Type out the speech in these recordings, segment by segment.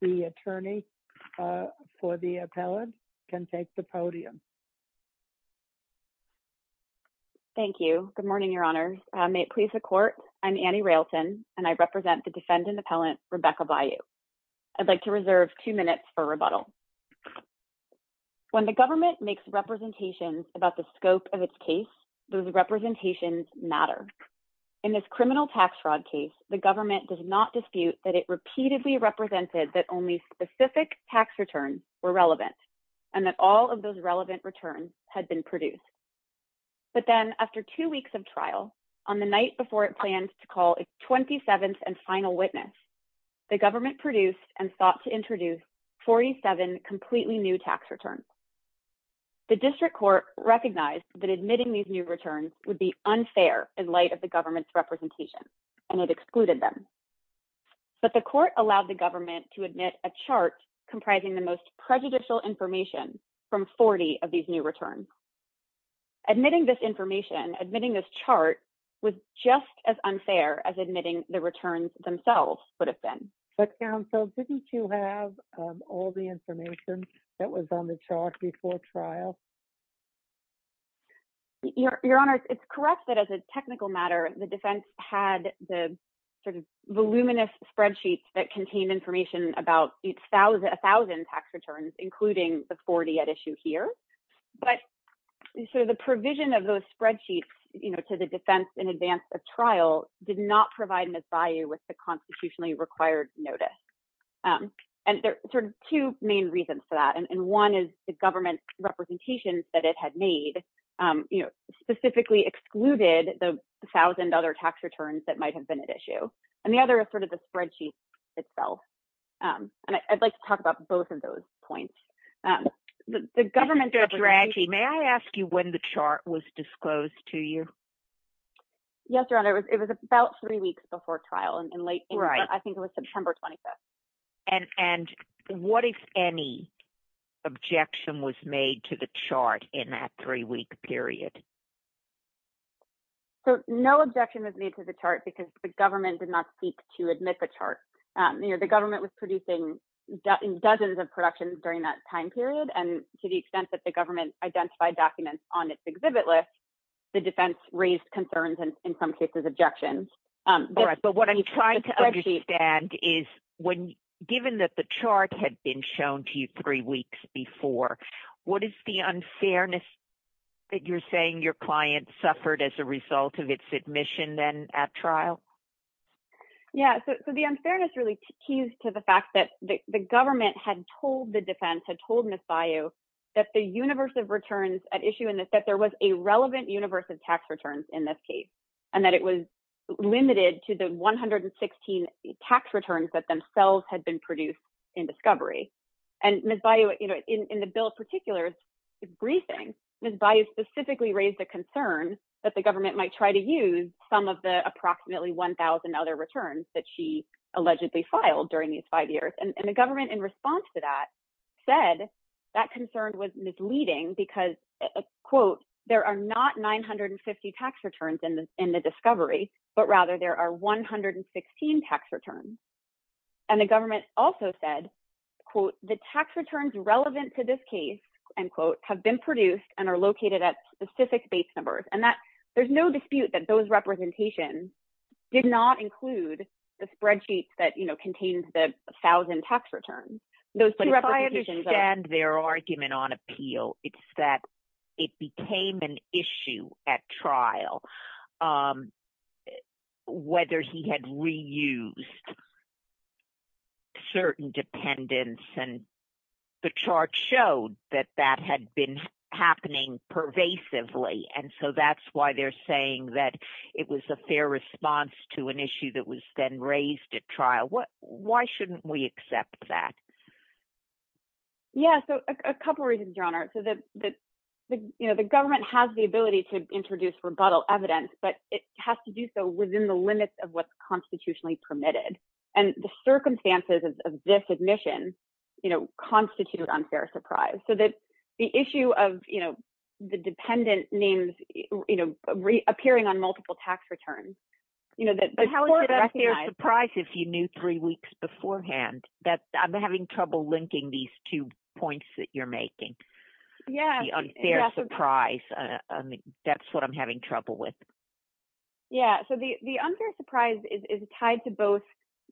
The attorney for the appellant can take the podium. Thank you. Good morning, Your Honors. May it please the Court, I'm Annie Railton, and I represent the defendant-appellant Rebecca Bayuo. I'd like to reserve two minutes for rebuttal. When the government makes representations about the scope of its case, those representations matter. In this criminal tax fraud case, the government does not dispute that it repeatedly represented that only specific tax returns were relevant, and that all of those relevant returns had been produced. But then, after two weeks of trial, on the night before it planned to call its 27th and final witness, the government produced and sought to introduce 47 completely new tax returns. The district court recognized that admitting these new returns would be unfair in light of the government's representation, and it excluded them. But the court allowed the government to admit a chart comprising the most prejudicial information from 40 of these new returns. Admitting this information, admitting this chart, was just as unfair as admitting the returns themselves would have been. But, counsel, didn't you have all the information that was on the chart before trial? Your Honor, it's correct that, as a technical matter, the defense had the sort of voluminous spreadsheets that contained information about a thousand tax returns, including the 40 at issue here. But sort of the provision of those spreadsheets, you know, to the defense in advance of trial did not provide an advice with the constitutionally required notice. And there are sort of two main reasons for that, and one is the government representations that it had made, you know, specifically excluded the thousand other tax returns that might have been at issue. And the other is sort of the spreadsheet itself. And I'd like to talk about both of those points. The government's representation… Judge Ranchi, may I ask you when the chart was disclosed to you? Yes, Your Honor. It was about three weeks before trial, and I think it was September 25th. And what, if any, objection was made to the chart in that three-week period? So, no objection was made to the chart because the government did not seek to admit the chart. The government was producing dozens of productions during that time period, and to the extent that the government identified documents on its exhibit list, the defense raised concerns and, in some cases, objections. All right, but what I'm trying to understand is, given that the chart had been shown to you three weeks before, what is the unfairness that you're saying your client suffered as a result of its admission then at trial? Yeah, so the unfairness really keys to the fact that the government had told the defense, had told Ms. Bayou, that the universe of returns at issue in this, that there was a relevant universe of tax returns in this case, and that it was limited to the 116 tax returns that themselves had been produced in discovery. And Ms. Bayou, in the bill in particular's briefing, Ms. Bayou specifically raised the concern that the government might try to use some of the approximately 1,000 other returns that she allegedly filed during these five years. And the government, in response to that, said that concern was misleading because, quote, there are not 950 tax returns in the discovery, but rather there are 116 tax returns. And the government also said, quote, the tax returns relevant to this case, end quote, have been produced and are located at specific base numbers. And that, there's no dispute that those representations did not include the spreadsheets that, you know, contained the 1,000 tax returns. But if I understand their argument on appeal, it's that it became an issue at trial, whether he had reused certain dependents and the chart showed that that had been happening pervasively. And so that's why they're saying that it was a fair response to an issue that was then raised at trial. Why shouldn't we accept that? Yeah, so a couple of reasons, Your Honor. So that, you know, the government has the ability to introduce rebuttal evidence, but it has to do so within the limits of what's constitutionally permitted. And the circumstances of this admission, you know, constitute unfair surprise. So that the issue of, you know, the dependent names, you know, appearing on multiple tax returns, you know, that the court did recognize. But how is it a fair surprise if you knew three weeks beforehand that I'm having trouble linking these two points that you're making? Yeah. The unfair surprise, that's what I'm having trouble with. Yeah. So the unfair surprise is tied to both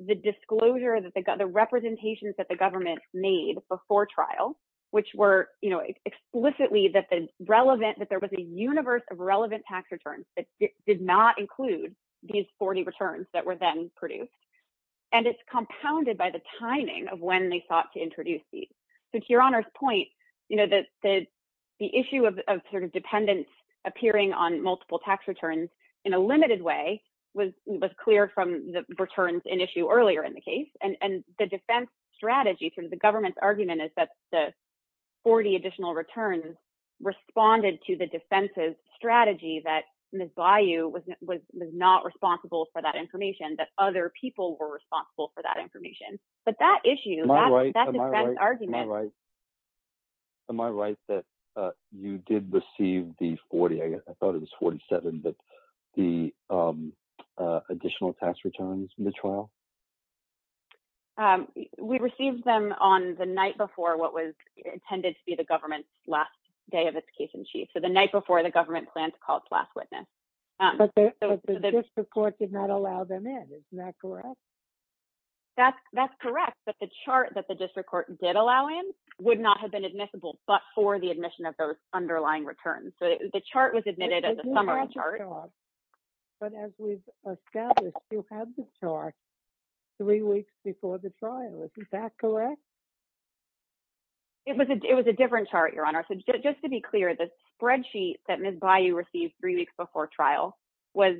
the disclosure that the, the representations that the government made before trial, which were, you know, explicitly that the relevant, that there was a universe of relevant tax returns that did not include these 40 returns that were then produced. And it's compounded by the timing of when they sought to introduce these. So to Your Honor's point, you know, that the issue of sort of dependents appearing on multiple tax returns in a limited way was, was clear from the returns in issue earlier in the case. And the defense strategy through the government's argument is that the 40 additional returns responded to the defense's strategy that Ms. Bayou was not responsible for that information, that other people were responsible for that information. But that issue, that defense argument. Am I right that you did receive the 40, I guess, I thought it was 47, but the additional tax returns from the trial? We received them on the night before what was intended to be the government's last day of its case in chief. So the night before the government plans to call it's last witness. But the district court did not allow them in, isn't that correct? That's correct. But the chart that the district court did allow in would not have been admissible but for the admission of those underlying returns. So the chart was admitted as a summary chart. But as we've established, you had the chart three weeks before the trial, is that correct? It was a, it was a different chart, Your Honor. So just to be clear, the spreadsheet that Ms. Bayou received three weeks before trial was,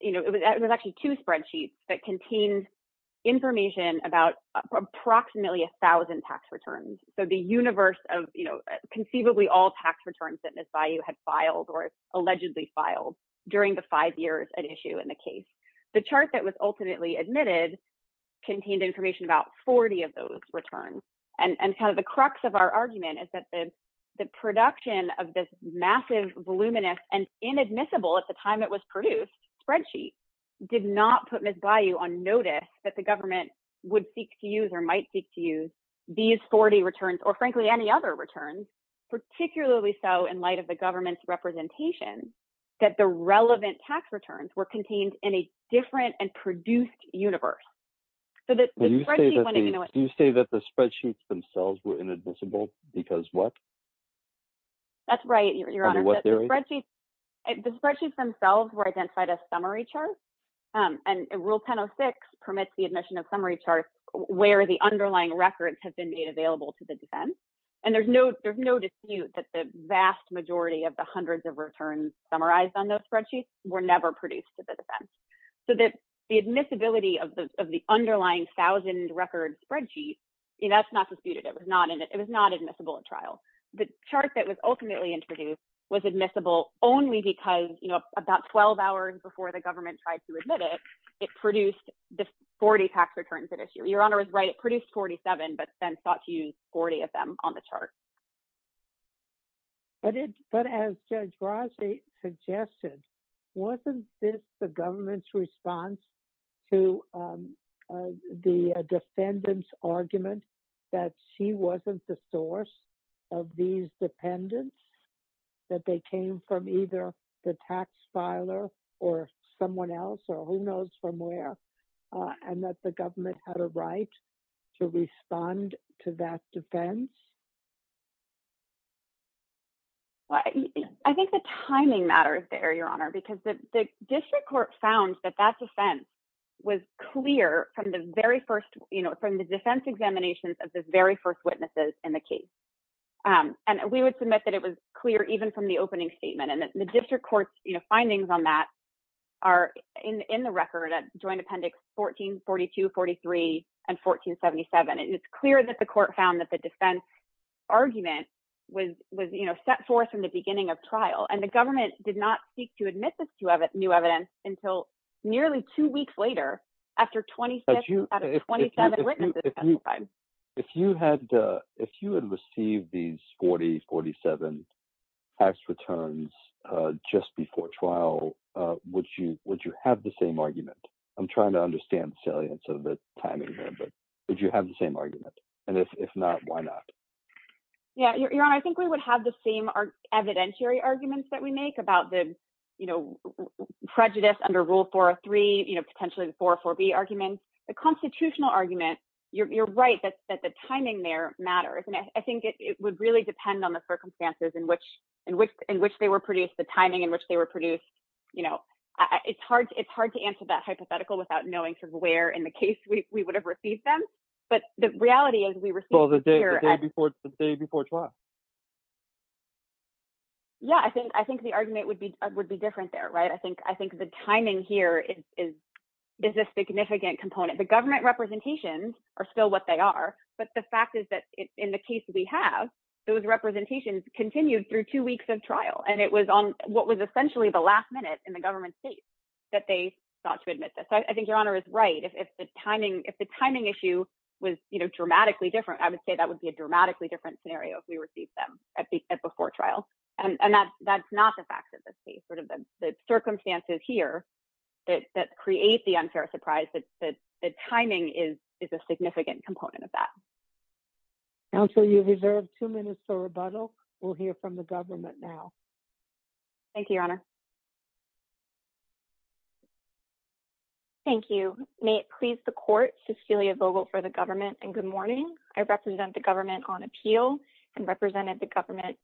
you know, it was actually two spreadsheets that contained information about approximately a thousand tax returns. So the universe of, you know, conceivably all tax returns that Ms. Bayou had filed or allegedly filed during the five years at issue in the case. The chart that was ultimately admitted contained information about 40 of those returns. And kind of the crux of our argument is that the production of this massive voluminous and inadmissible at the time it was produced spreadsheet did not put Ms. Bayou on notice that the government would seek to use or might seek to use these 40 returns or frankly any other returns, particularly so in light of the government's representation that the relevant tax returns were contained in a different and produced universe. Do you say that the spreadsheets themselves were inadmissible because what? That's right, Your Honor. Under what theory? The spreadsheets themselves were identified as summary charts and Rule 1006 permits the admission of summary charts where the underlying records have been made available to the defense. And there's no, there's no dispute that the vast majority of the hundreds of returns summarized on those spreadsheets were never produced to the defense so that the admissibility of the underlying thousand record spreadsheets, that's not disputed. It was not in it. It was not admissible at trial, but chart that was ultimately introduced was admissible only because, you know, about 12 hours before the government tried to admit it, it produced the 40 tax returns at issue. Your Honor is right. It produced 47, but then sought to use 40 of them on the chart. But as Judge Brazee suggested, wasn't this the government's response to the defendant's argument that she wasn't the source of these dependents, that they came from either the right to respond to that defense? I think the timing matters there, Your Honor, because the district court found that that defense was clear from the very first, you know, from the defense examinations of the very first witnesses in the case. And we would submit that it was clear even from the opening statement and the district court's findings on that are in the record at joint appendix 14, 42, 43, and 1477. It's clear that the court found that the defense argument was, you know, set forth from the beginning of trial and the government did not seek to admit this new evidence until nearly two weeks later after 27 witnesses testified. If you had received these 40, 47 tax returns just before trial, would you have the same argument? I'm trying to understand the salience of the timing here, but would you have the same argument? And if not, why not? Yeah. Your Honor, I think we would have the same evidentiary arguments that we make about the, you know, prejudice under Rule 403, you know, potentially the 404B argument. The constitutional argument, you're right that the timing there matters. And I think it would really depend on the circumstances in which they were produced, the timing in which they were produced. You know, it's hard to answer that hypothetical without knowing sort of where in the case we would have received them. But the reality is we received it here at- Well, the day before trial. Yeah, I think the argument would be different there, right? I think the timing here is a significant component. The government representations are still what they are, but the fact is that in the case we have, those representations continued through two weeks of trial. And it was on what was essentially the last minute in the government's case that they sought to admit this. So I think Your Honor is right, if the timing issue was, you know, dramatically different, I would say that would be a dramatically different scenario if we received them at before trial. And that's not the fact of the case. Sort of the circumstances here that create the unfair surprise, the timing is a significant component of that. Counsel, you've reserved two minutes for rebuttal. We'll hear from the government now. Thank you, Your Honor. Thank you. May it please the Court, Cecilia Vogel for the government, and good morning. I represent the government on appeal and represented the government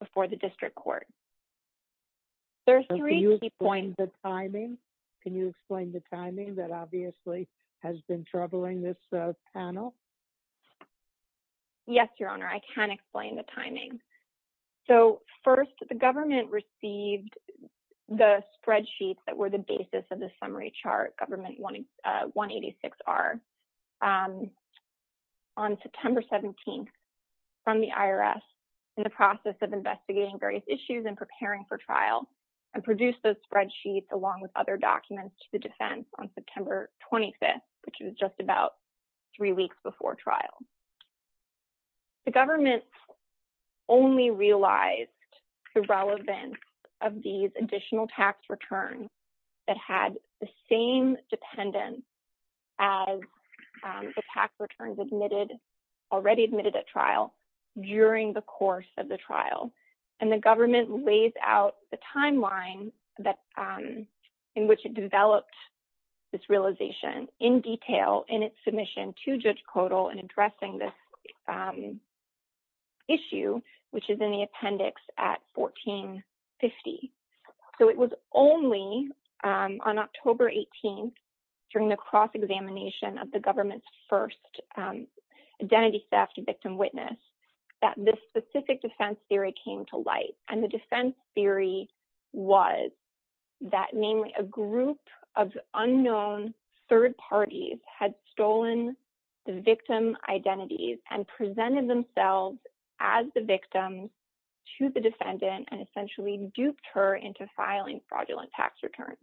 before the district court. There are three key points. Can you explain the timing? Can you explain the timing that obviously has been troubling this panel? Yes, Your Honor, I can explain the timing. So first, the government received the spreadsheets that were the basis of the summary chart, Government 186R, on September 17th from the IRS in the process of investigating various issues and preparing for trial, and produced those spreadsheets along with other documents to the defense on September 25th, which was just about three weeks before trial. The government only realized the relevance of these additional tax returns that had the same dependence as the tax returns admitted, already admitted at trial, during the course of the trial. And the government lays out the timeline in which it developed this realization in detail in its submission to Judge Kodal in addressing this issue, which is in the appendix at 1450. So it was only on October 18th, during the cross-examination of the government's first identity theft victim witness, that this specific defense theory came to light. And the defense theory was that namely a group of unknown third parties had stolen the victim identities and presented themselves as the victim to the defendant and essentially duped her into filing fraudulent tax returns.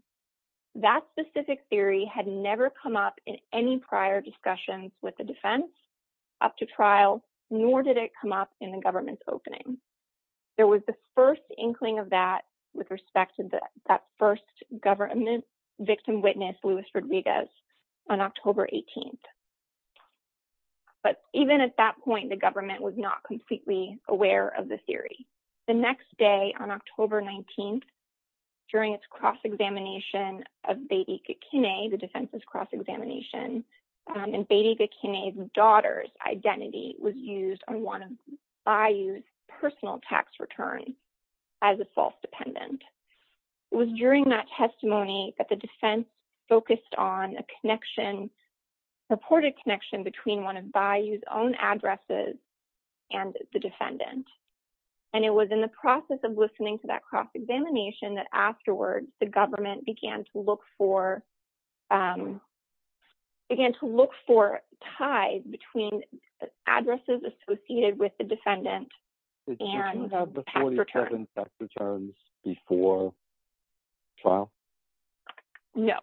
That specific theory had never come up in any prior discussions with the defense up to trial, nor did it come up in the government's opening. There was the first inkling of that with respect to that first government victim witness, Luis on October 18th. But even at that point, the government was not completely aware of the theory. The next day on October 19th, during its cross-examination of Bedi Gakine, the defense's cross-examination, and Bedi Gakine's daughter's identity was used on one of Bayou's personal tax returns as a false dependent. It was during that testimony that the defense focused on a connection, a reported connection between one of Bayou's own addresses and the defendant. And it was in the process of listening to that cross-examination that afterwards the government began to look for, began to look for ties between addresses associated with the defendant and the tax return. Did the government request those tax returns before trial? No.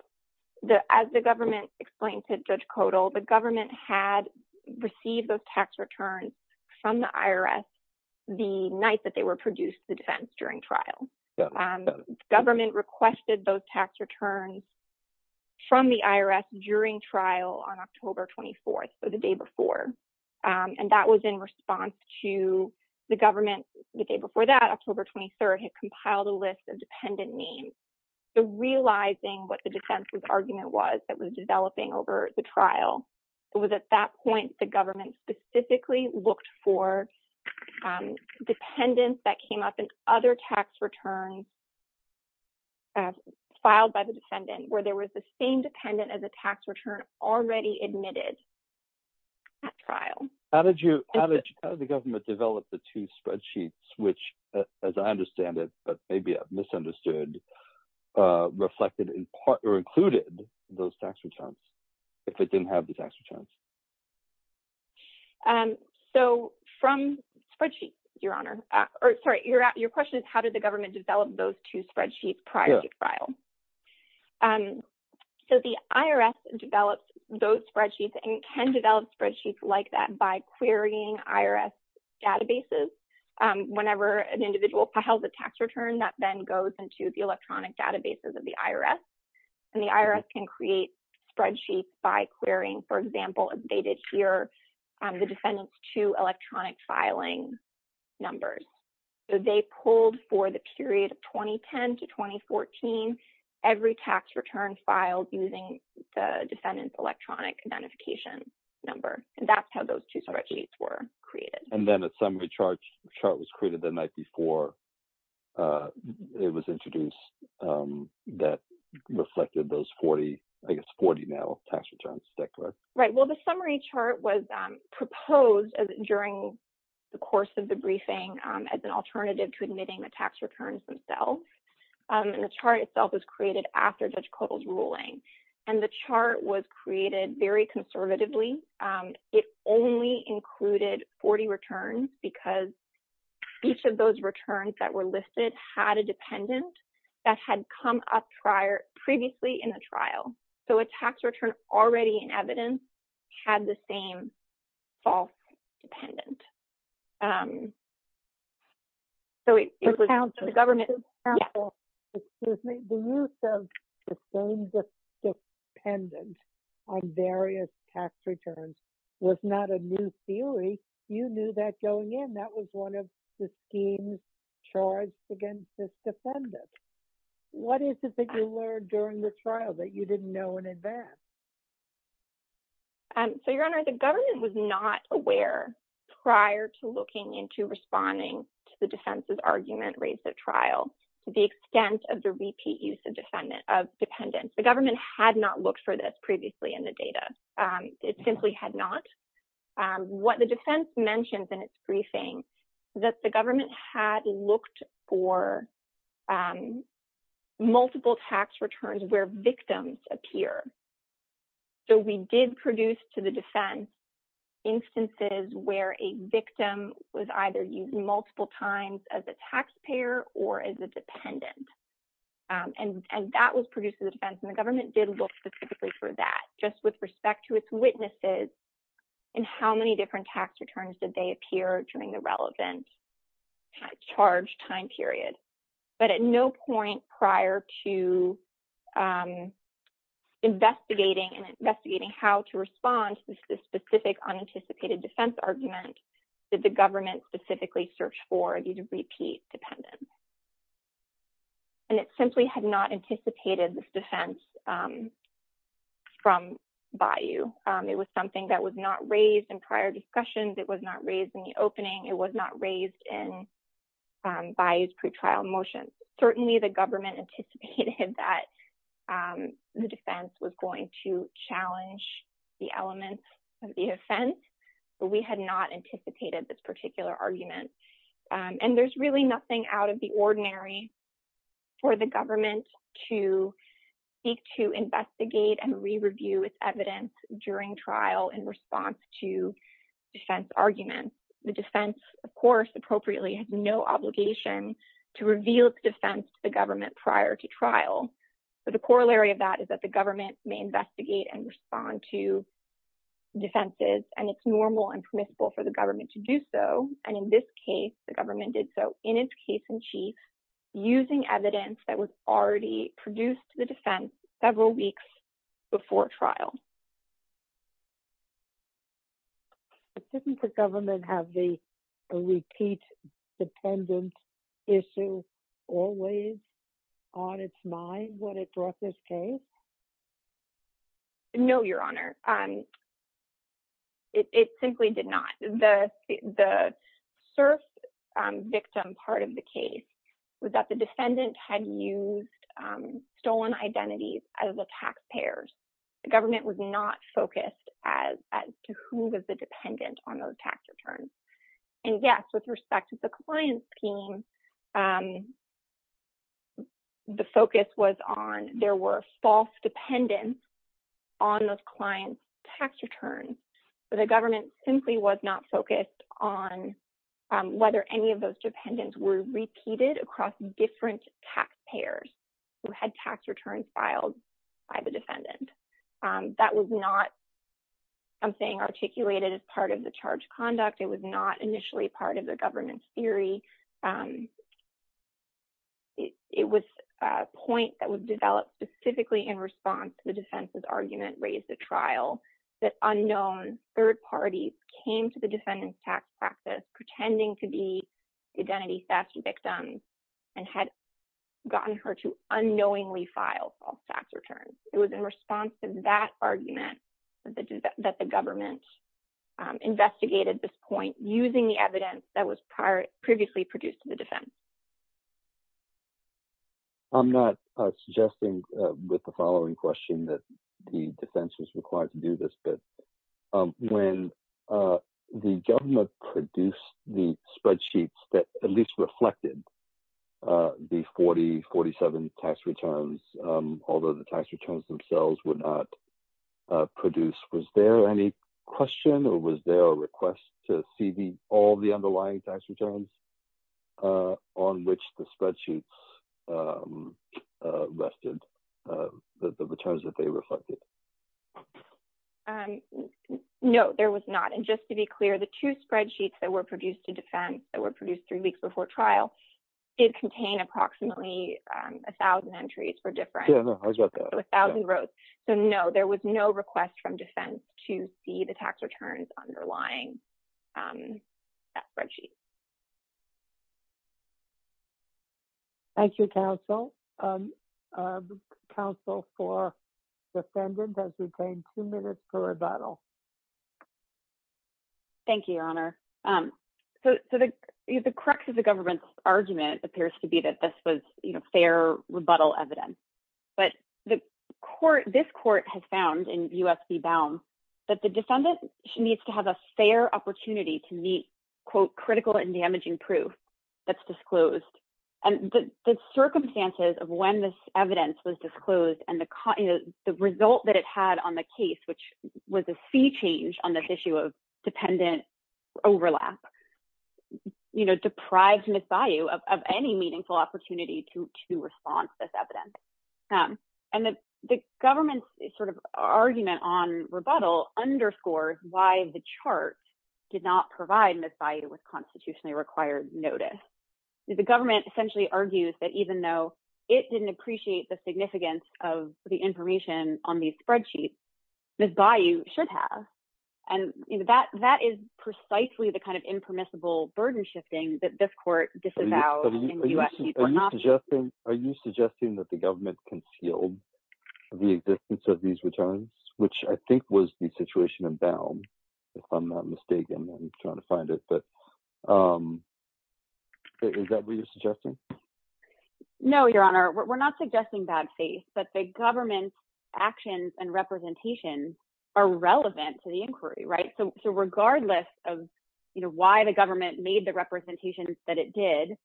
As the government explained to Judge Codal, the government had received those tax returns from the IRS the night that they were produced to the defense during trial. Government requested those tax returns from the IRS during trial on October 24th, so the day before. And that was in response to the government, the day before that, October 23rd, had compiled a list of dependent names. So realizing what the defense's argument was that was developing over the trial, it was at that point the government specifically looked for dependents that came up in other tax returns filed by the defendant where there was the same dependent as a tax return already admitted at trial. How did you, how did the government develop the two spreadsheets which, as I understand it, but maybe I've misunderstood, reflected in part or included those tax returns if it didn't have the tax returns? So from spreadsheets, Your Honor, or sorry, your question is how did the government develop those two spreadsheets prior to trial? So the IRS developed those spreadsheets and can develop spreadsheets like that by querying IRS databases. Whenever an individual files a tax return, that then goes into the electronic databases of the IRS, and the IRS can create spreadsheets by querying, for example, as dated here, the defendant's two electronic filing numbers. So they pulled for the period of 2010 to 2014, every tax return filed using the defendant's electronic identification number, and that's how those two spreadsheets were created. And then a summary chart was created the night before it was introduced that reflected those 40, I guess 40 now, tax returns declared. Right. Well, the summary chart was proposed during the course of the briefing as an alternative to admitting the tax returns themselves, and the chart itself was created after Judge Kotel's ruling, and the chart was created very conservatively. It only included 40 returns because each of those returns that were listed had a dependent that had come up previously in the trial. So a tax return already in evidence had the same false dependent. So it was the government. Excuse me. The use of the same dependent on various tax returns was not a new theory. You knew that going in. That was one of the schemes charged against this defendant. What is it that you learned during the trial that you didn't know in advance? So, Your Honor, the government was not aware prior to looking into responding to the defense's argument raised at trial to the extent of the repeat use of dependent. The government had not looked for this previously in the data. It simply had not. What the defense mentioned in its briefing is that the government had looked for multiple tax returns where victims appear, so we did produce to the defense instances where a victim was either used multiple times as a taxpayer or as a dependent, and that was produced to the defense, and the government did look specifically for that. Just with respect to its witnesses and how many different tax returns did they appear during the relevant charge time period, but at no point prior to investigating and investigating how to respond to this specific unanticipated defense argument did the government specifically search for these repeat dependents, and it simply had not anticipated this defense from Bayou. It was something that was not raised in prior discussions. It was not raised in the opening. It was not raised in Bayou's pretrial motion. Certainly, the government anticipated that the defense was going to challenge the elements of the offense, but we had not anticipated this particular argument, and there's really nothing out of the ordinary for the government to seek to investigate and re-review its evidence during trial in response to defense arguments. The defense, of course, appropriately has no obligation to reveal its defense to the government prior to trial, but the corollary of that is that the government may investigate and respond to defenses, and it's normal and permissible for the government to do so, and in this case, the government did so in its case in chief using evidence that was already produced to the defense several weeks before trial. Didn't the government have the repeat dependent issue always on its mind when it brought this case? No, Your Honor. It simply did not. The serf victim part of the case was that the defendant had used stolen identities as the taxpayers. The government was not focused as to who was the dependent on those tax returns, and yes, with respect to the client's team, the focus was on there were false dependents on those clients' tax returns, but the government simply was not focused on whether any of those dependents were repeated across different taxpayers who had tax returns filed by the defendant. That was not something articulated as part of the charge conduct. It was not initially part of the government's theory. It was a point that was developed specifically in response to the defense's argument raised at trial that unknown third parties came to the defendant's tax practice pretending to be identity theft victims and had gotten her to unknowingly file false tax returns. It was in response to that argument that the government investigated this point using the evidence that was previously produced to the defense. I'm not suggesting with the following question that the defense was required to do this, but when the government produced the spreadsheets that at least reflected the 40, 47 tax returns, although the tax returns themselves were not produced, was there any question or was there a request to see all the underlying tax returns on which the spreadsheets rested, the returns that they reflected? No, there was not. And just to be clear, the two spreadsheets that were produced to defense, that were produced three weeks before trial, did contain approximately 1,000 entries for different. Yeah, I got that. 1,000 rows. So, no, there was no request from defense to see the tax returns underlying that spreadsheet. Thank you, counsel. Counsel for defendant has retained two minutes for rebuttal. Thank you, Your Honor. So the crux of the government's argument appears to be that this was fair rebuttal evidence, but this court has found in U.S. v. Baum that the defendant needs to have a fair opportunity to meet, quote, critical and damaging proof that's disclosed. And the circumstances of when this evidence was disclosed and the result that it had on the case, which was a fee change on this issue of dependent overlap, you know, deprived Ms. Bayou of any meaningful opportunity to respond to this evidence. And the government's sort of argument on rebuttal underscores why the chart did not provide Ms. Bayou with constitutionally required notice. The government essentially argues that even though it didn't appreciate the significance of the information on these spreadsheets, Ms. Bayou should have. And that is precisely the kind of impermissible burden shifting that this court disavows in U.S. v. Baum. Are you suggesting that the government concealed the existence of these returns, which I think was the situation in Baum, if I'm not mistaken, I'm trying to find it. But is that what you're suggesting? No, Your Honor, we're not suggesting bad faith. But the government's actions and representations are relevant to the inquiry, right? So regardless of, you know, why the government made the representations that it did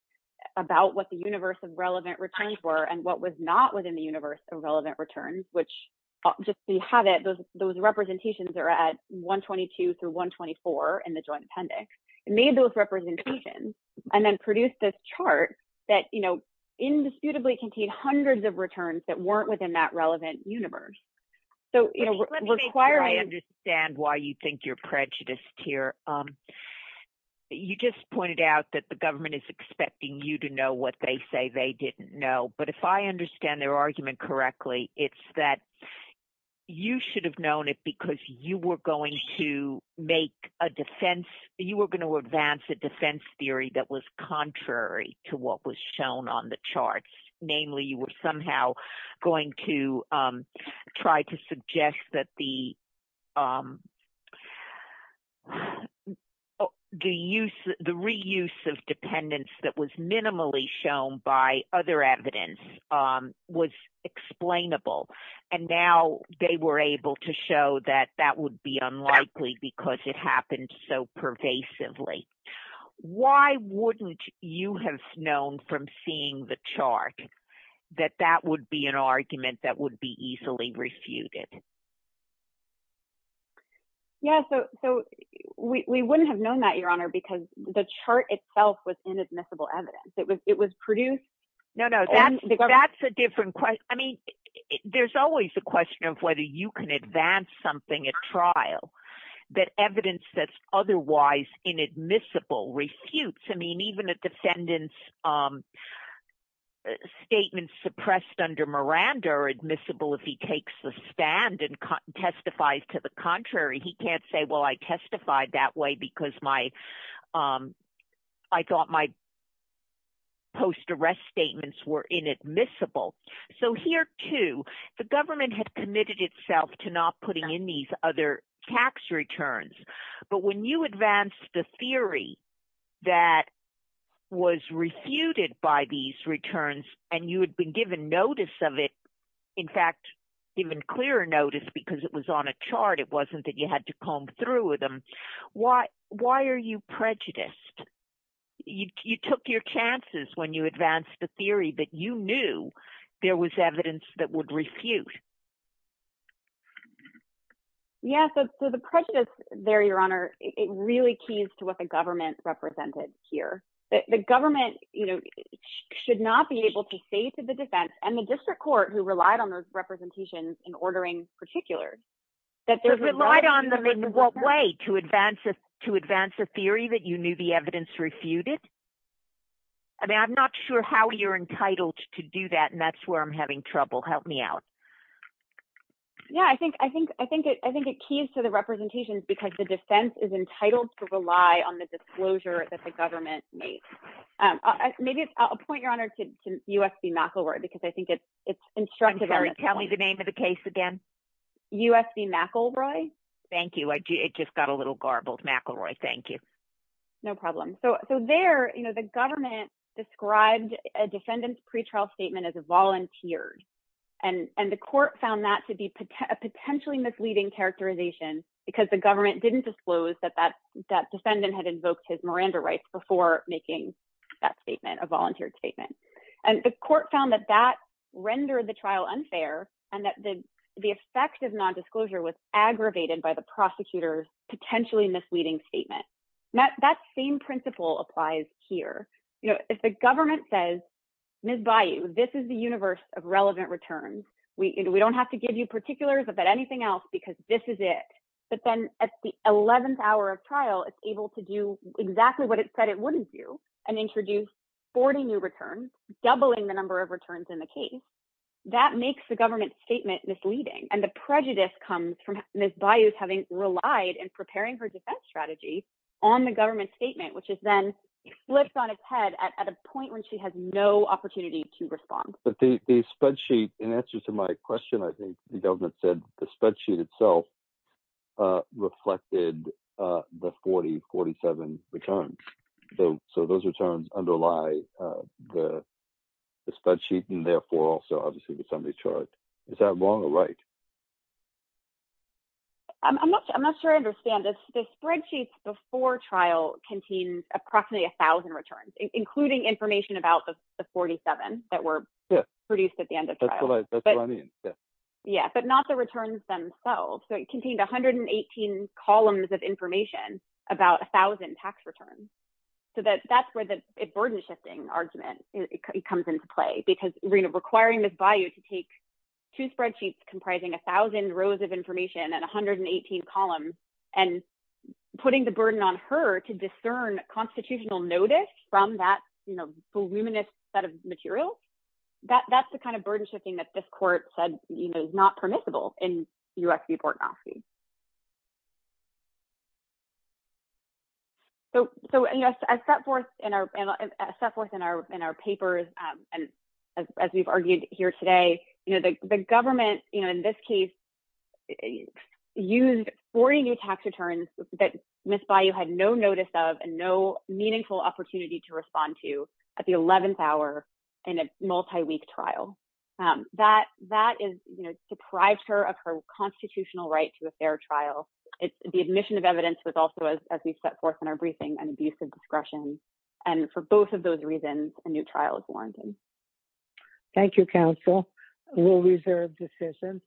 about what the universe of relevant returns were and what was not within the universe of relevant returns, which just so you have it, those representations are at 122 through 124 in the joint appendix. It made those representations and then produced this chart that, you know, indisputably contained hundreds of returns that weren't within that relevant universe. So, you know, required. I understand why you think you're prejudiced here. You just pointed out that the government is expecting you to know what they say they didn't know. But if I understand their argument correctly, it's that you should have known it because you were going to make a defense, you were going to advance a defense theory that was contrary to what was shown on the charts. Namely, you were somehow going to try to suggest that the reuse of dependence that was minimally shown by other evidence was explainable. And now they were able to show that that would be unlikely because it happened so pervasively. Why wouldn't you have known from seeing the chart that that would be an argument that would be easily refuted? Yeah, so we wouldn't have known that, Your Honor, because the chart itself was inadmissible evidence. It was produced. No, no, that's a different question. I mean, there's always a question of whether you can advance something at trial that evidence that's otherwise inadmissible refutes. I mean, even a defendant's statements suppressed under Miranda are admissible if he takes the stand and testifies to the contrary. He can't say, well, I testified that way because I thought my post-arrest statements were inadmissible. So here, too, the government had committed itself to not putting in these other tax returns. But when you advance the theory that was refuted by these returns and you had been given notice of it, in fact, given clearer notice because it was on a chart, it wasn't that you had to comb through with them, why are you prejudiced? You took your chances when you advanced the theory, but you knew there was evidence that would refute. Yeah, so the prejudice there, Your Honor, it really keys to what the government represented here. The government should not be able to say to the defense and the district court who relied on those representations in ordering particulars that there's a right on them in what way to advance a theory that you knew the evidence refuted. I mean, I'm not sure how you're entitled to do that, and that's where I'm having trouble. Help me out. Yeah, I think it keys to the representations because the defense is entitled to rely on the disclosure that the government made. Maybe a point, Your Honor, to U.S.B. McIlroy, because I think it's instructive. Can you tell me the name of the case again? U.S.B. McIlroy? Thank you. It just got a little garbled. McIlroy, thank you. No problem. So there, the government described a defendant's pretrial statement as a volunteered, and the court found that to be a potentially misleading characterization because the government didn't disclose that that defendant had invoked his Miranda rights before making that statement, a volunteered statement. And the court found that that rendered the trial unfair and that the effect of nondisclosure was aggravated by the prosecutor's potentially misleading statement. That same principle applies here. You know, if the government says, Ms. Bayou, this is the universe of relevant returns. We don't have to give you particulars about anything else because this is it. But then at the 11th hour of trial, it's able to do exactly what it said it wouldn't do and introduce 40 new returns, doubling the number of returns in the case. That makes the government statement misleading. And the prejudice comes from Ms. Bayou having relied in preparing her defense strategy on the government statement, which is then flipped on its head at a point when she has no opportunity to respond. But the spreadsheet, in answer to my question, I think the government said the spreadsheet itself reflected the 40, 47 returns. So those returns underlie the spreadsheet and therefore also obviously the summary chart. Is that wrong or right? I'm not sure I understand. The spreadsheets before trial contained approximately 1,000 returns, including information about the 47 that were produced at the end of trial. That's what I mean, yeah. Yeah, but not the returns themselves. So it contained 118 columns of information about 1,000 tax returns. So that's where the burden shifting argument comes into play, because requiring Ms. Bayou to take two spreadsheets comprising 1,000 rows of information and 118 columns and putting the burden on her to discern constitutional notice from that voluminous set of materials, that's the kind of burden shifting that this court said is not permissible in U.S. v. Bortnowski. So I set forth in our papers, and as we've argued here today, the government in this case used 40 new tax returns that Ms. Bayou had no notice of and no meaningful opportunity to respond to at the 11th hour in a multi-week trial. That is, you know, deprives her of her constitutional right to a fair trial. The admission of evidence was also, as we set forth in our briefing, an abuse of discretion. And for both of those reasons, a new trial is warranted. Thank you, counsel. We'll reserve decision.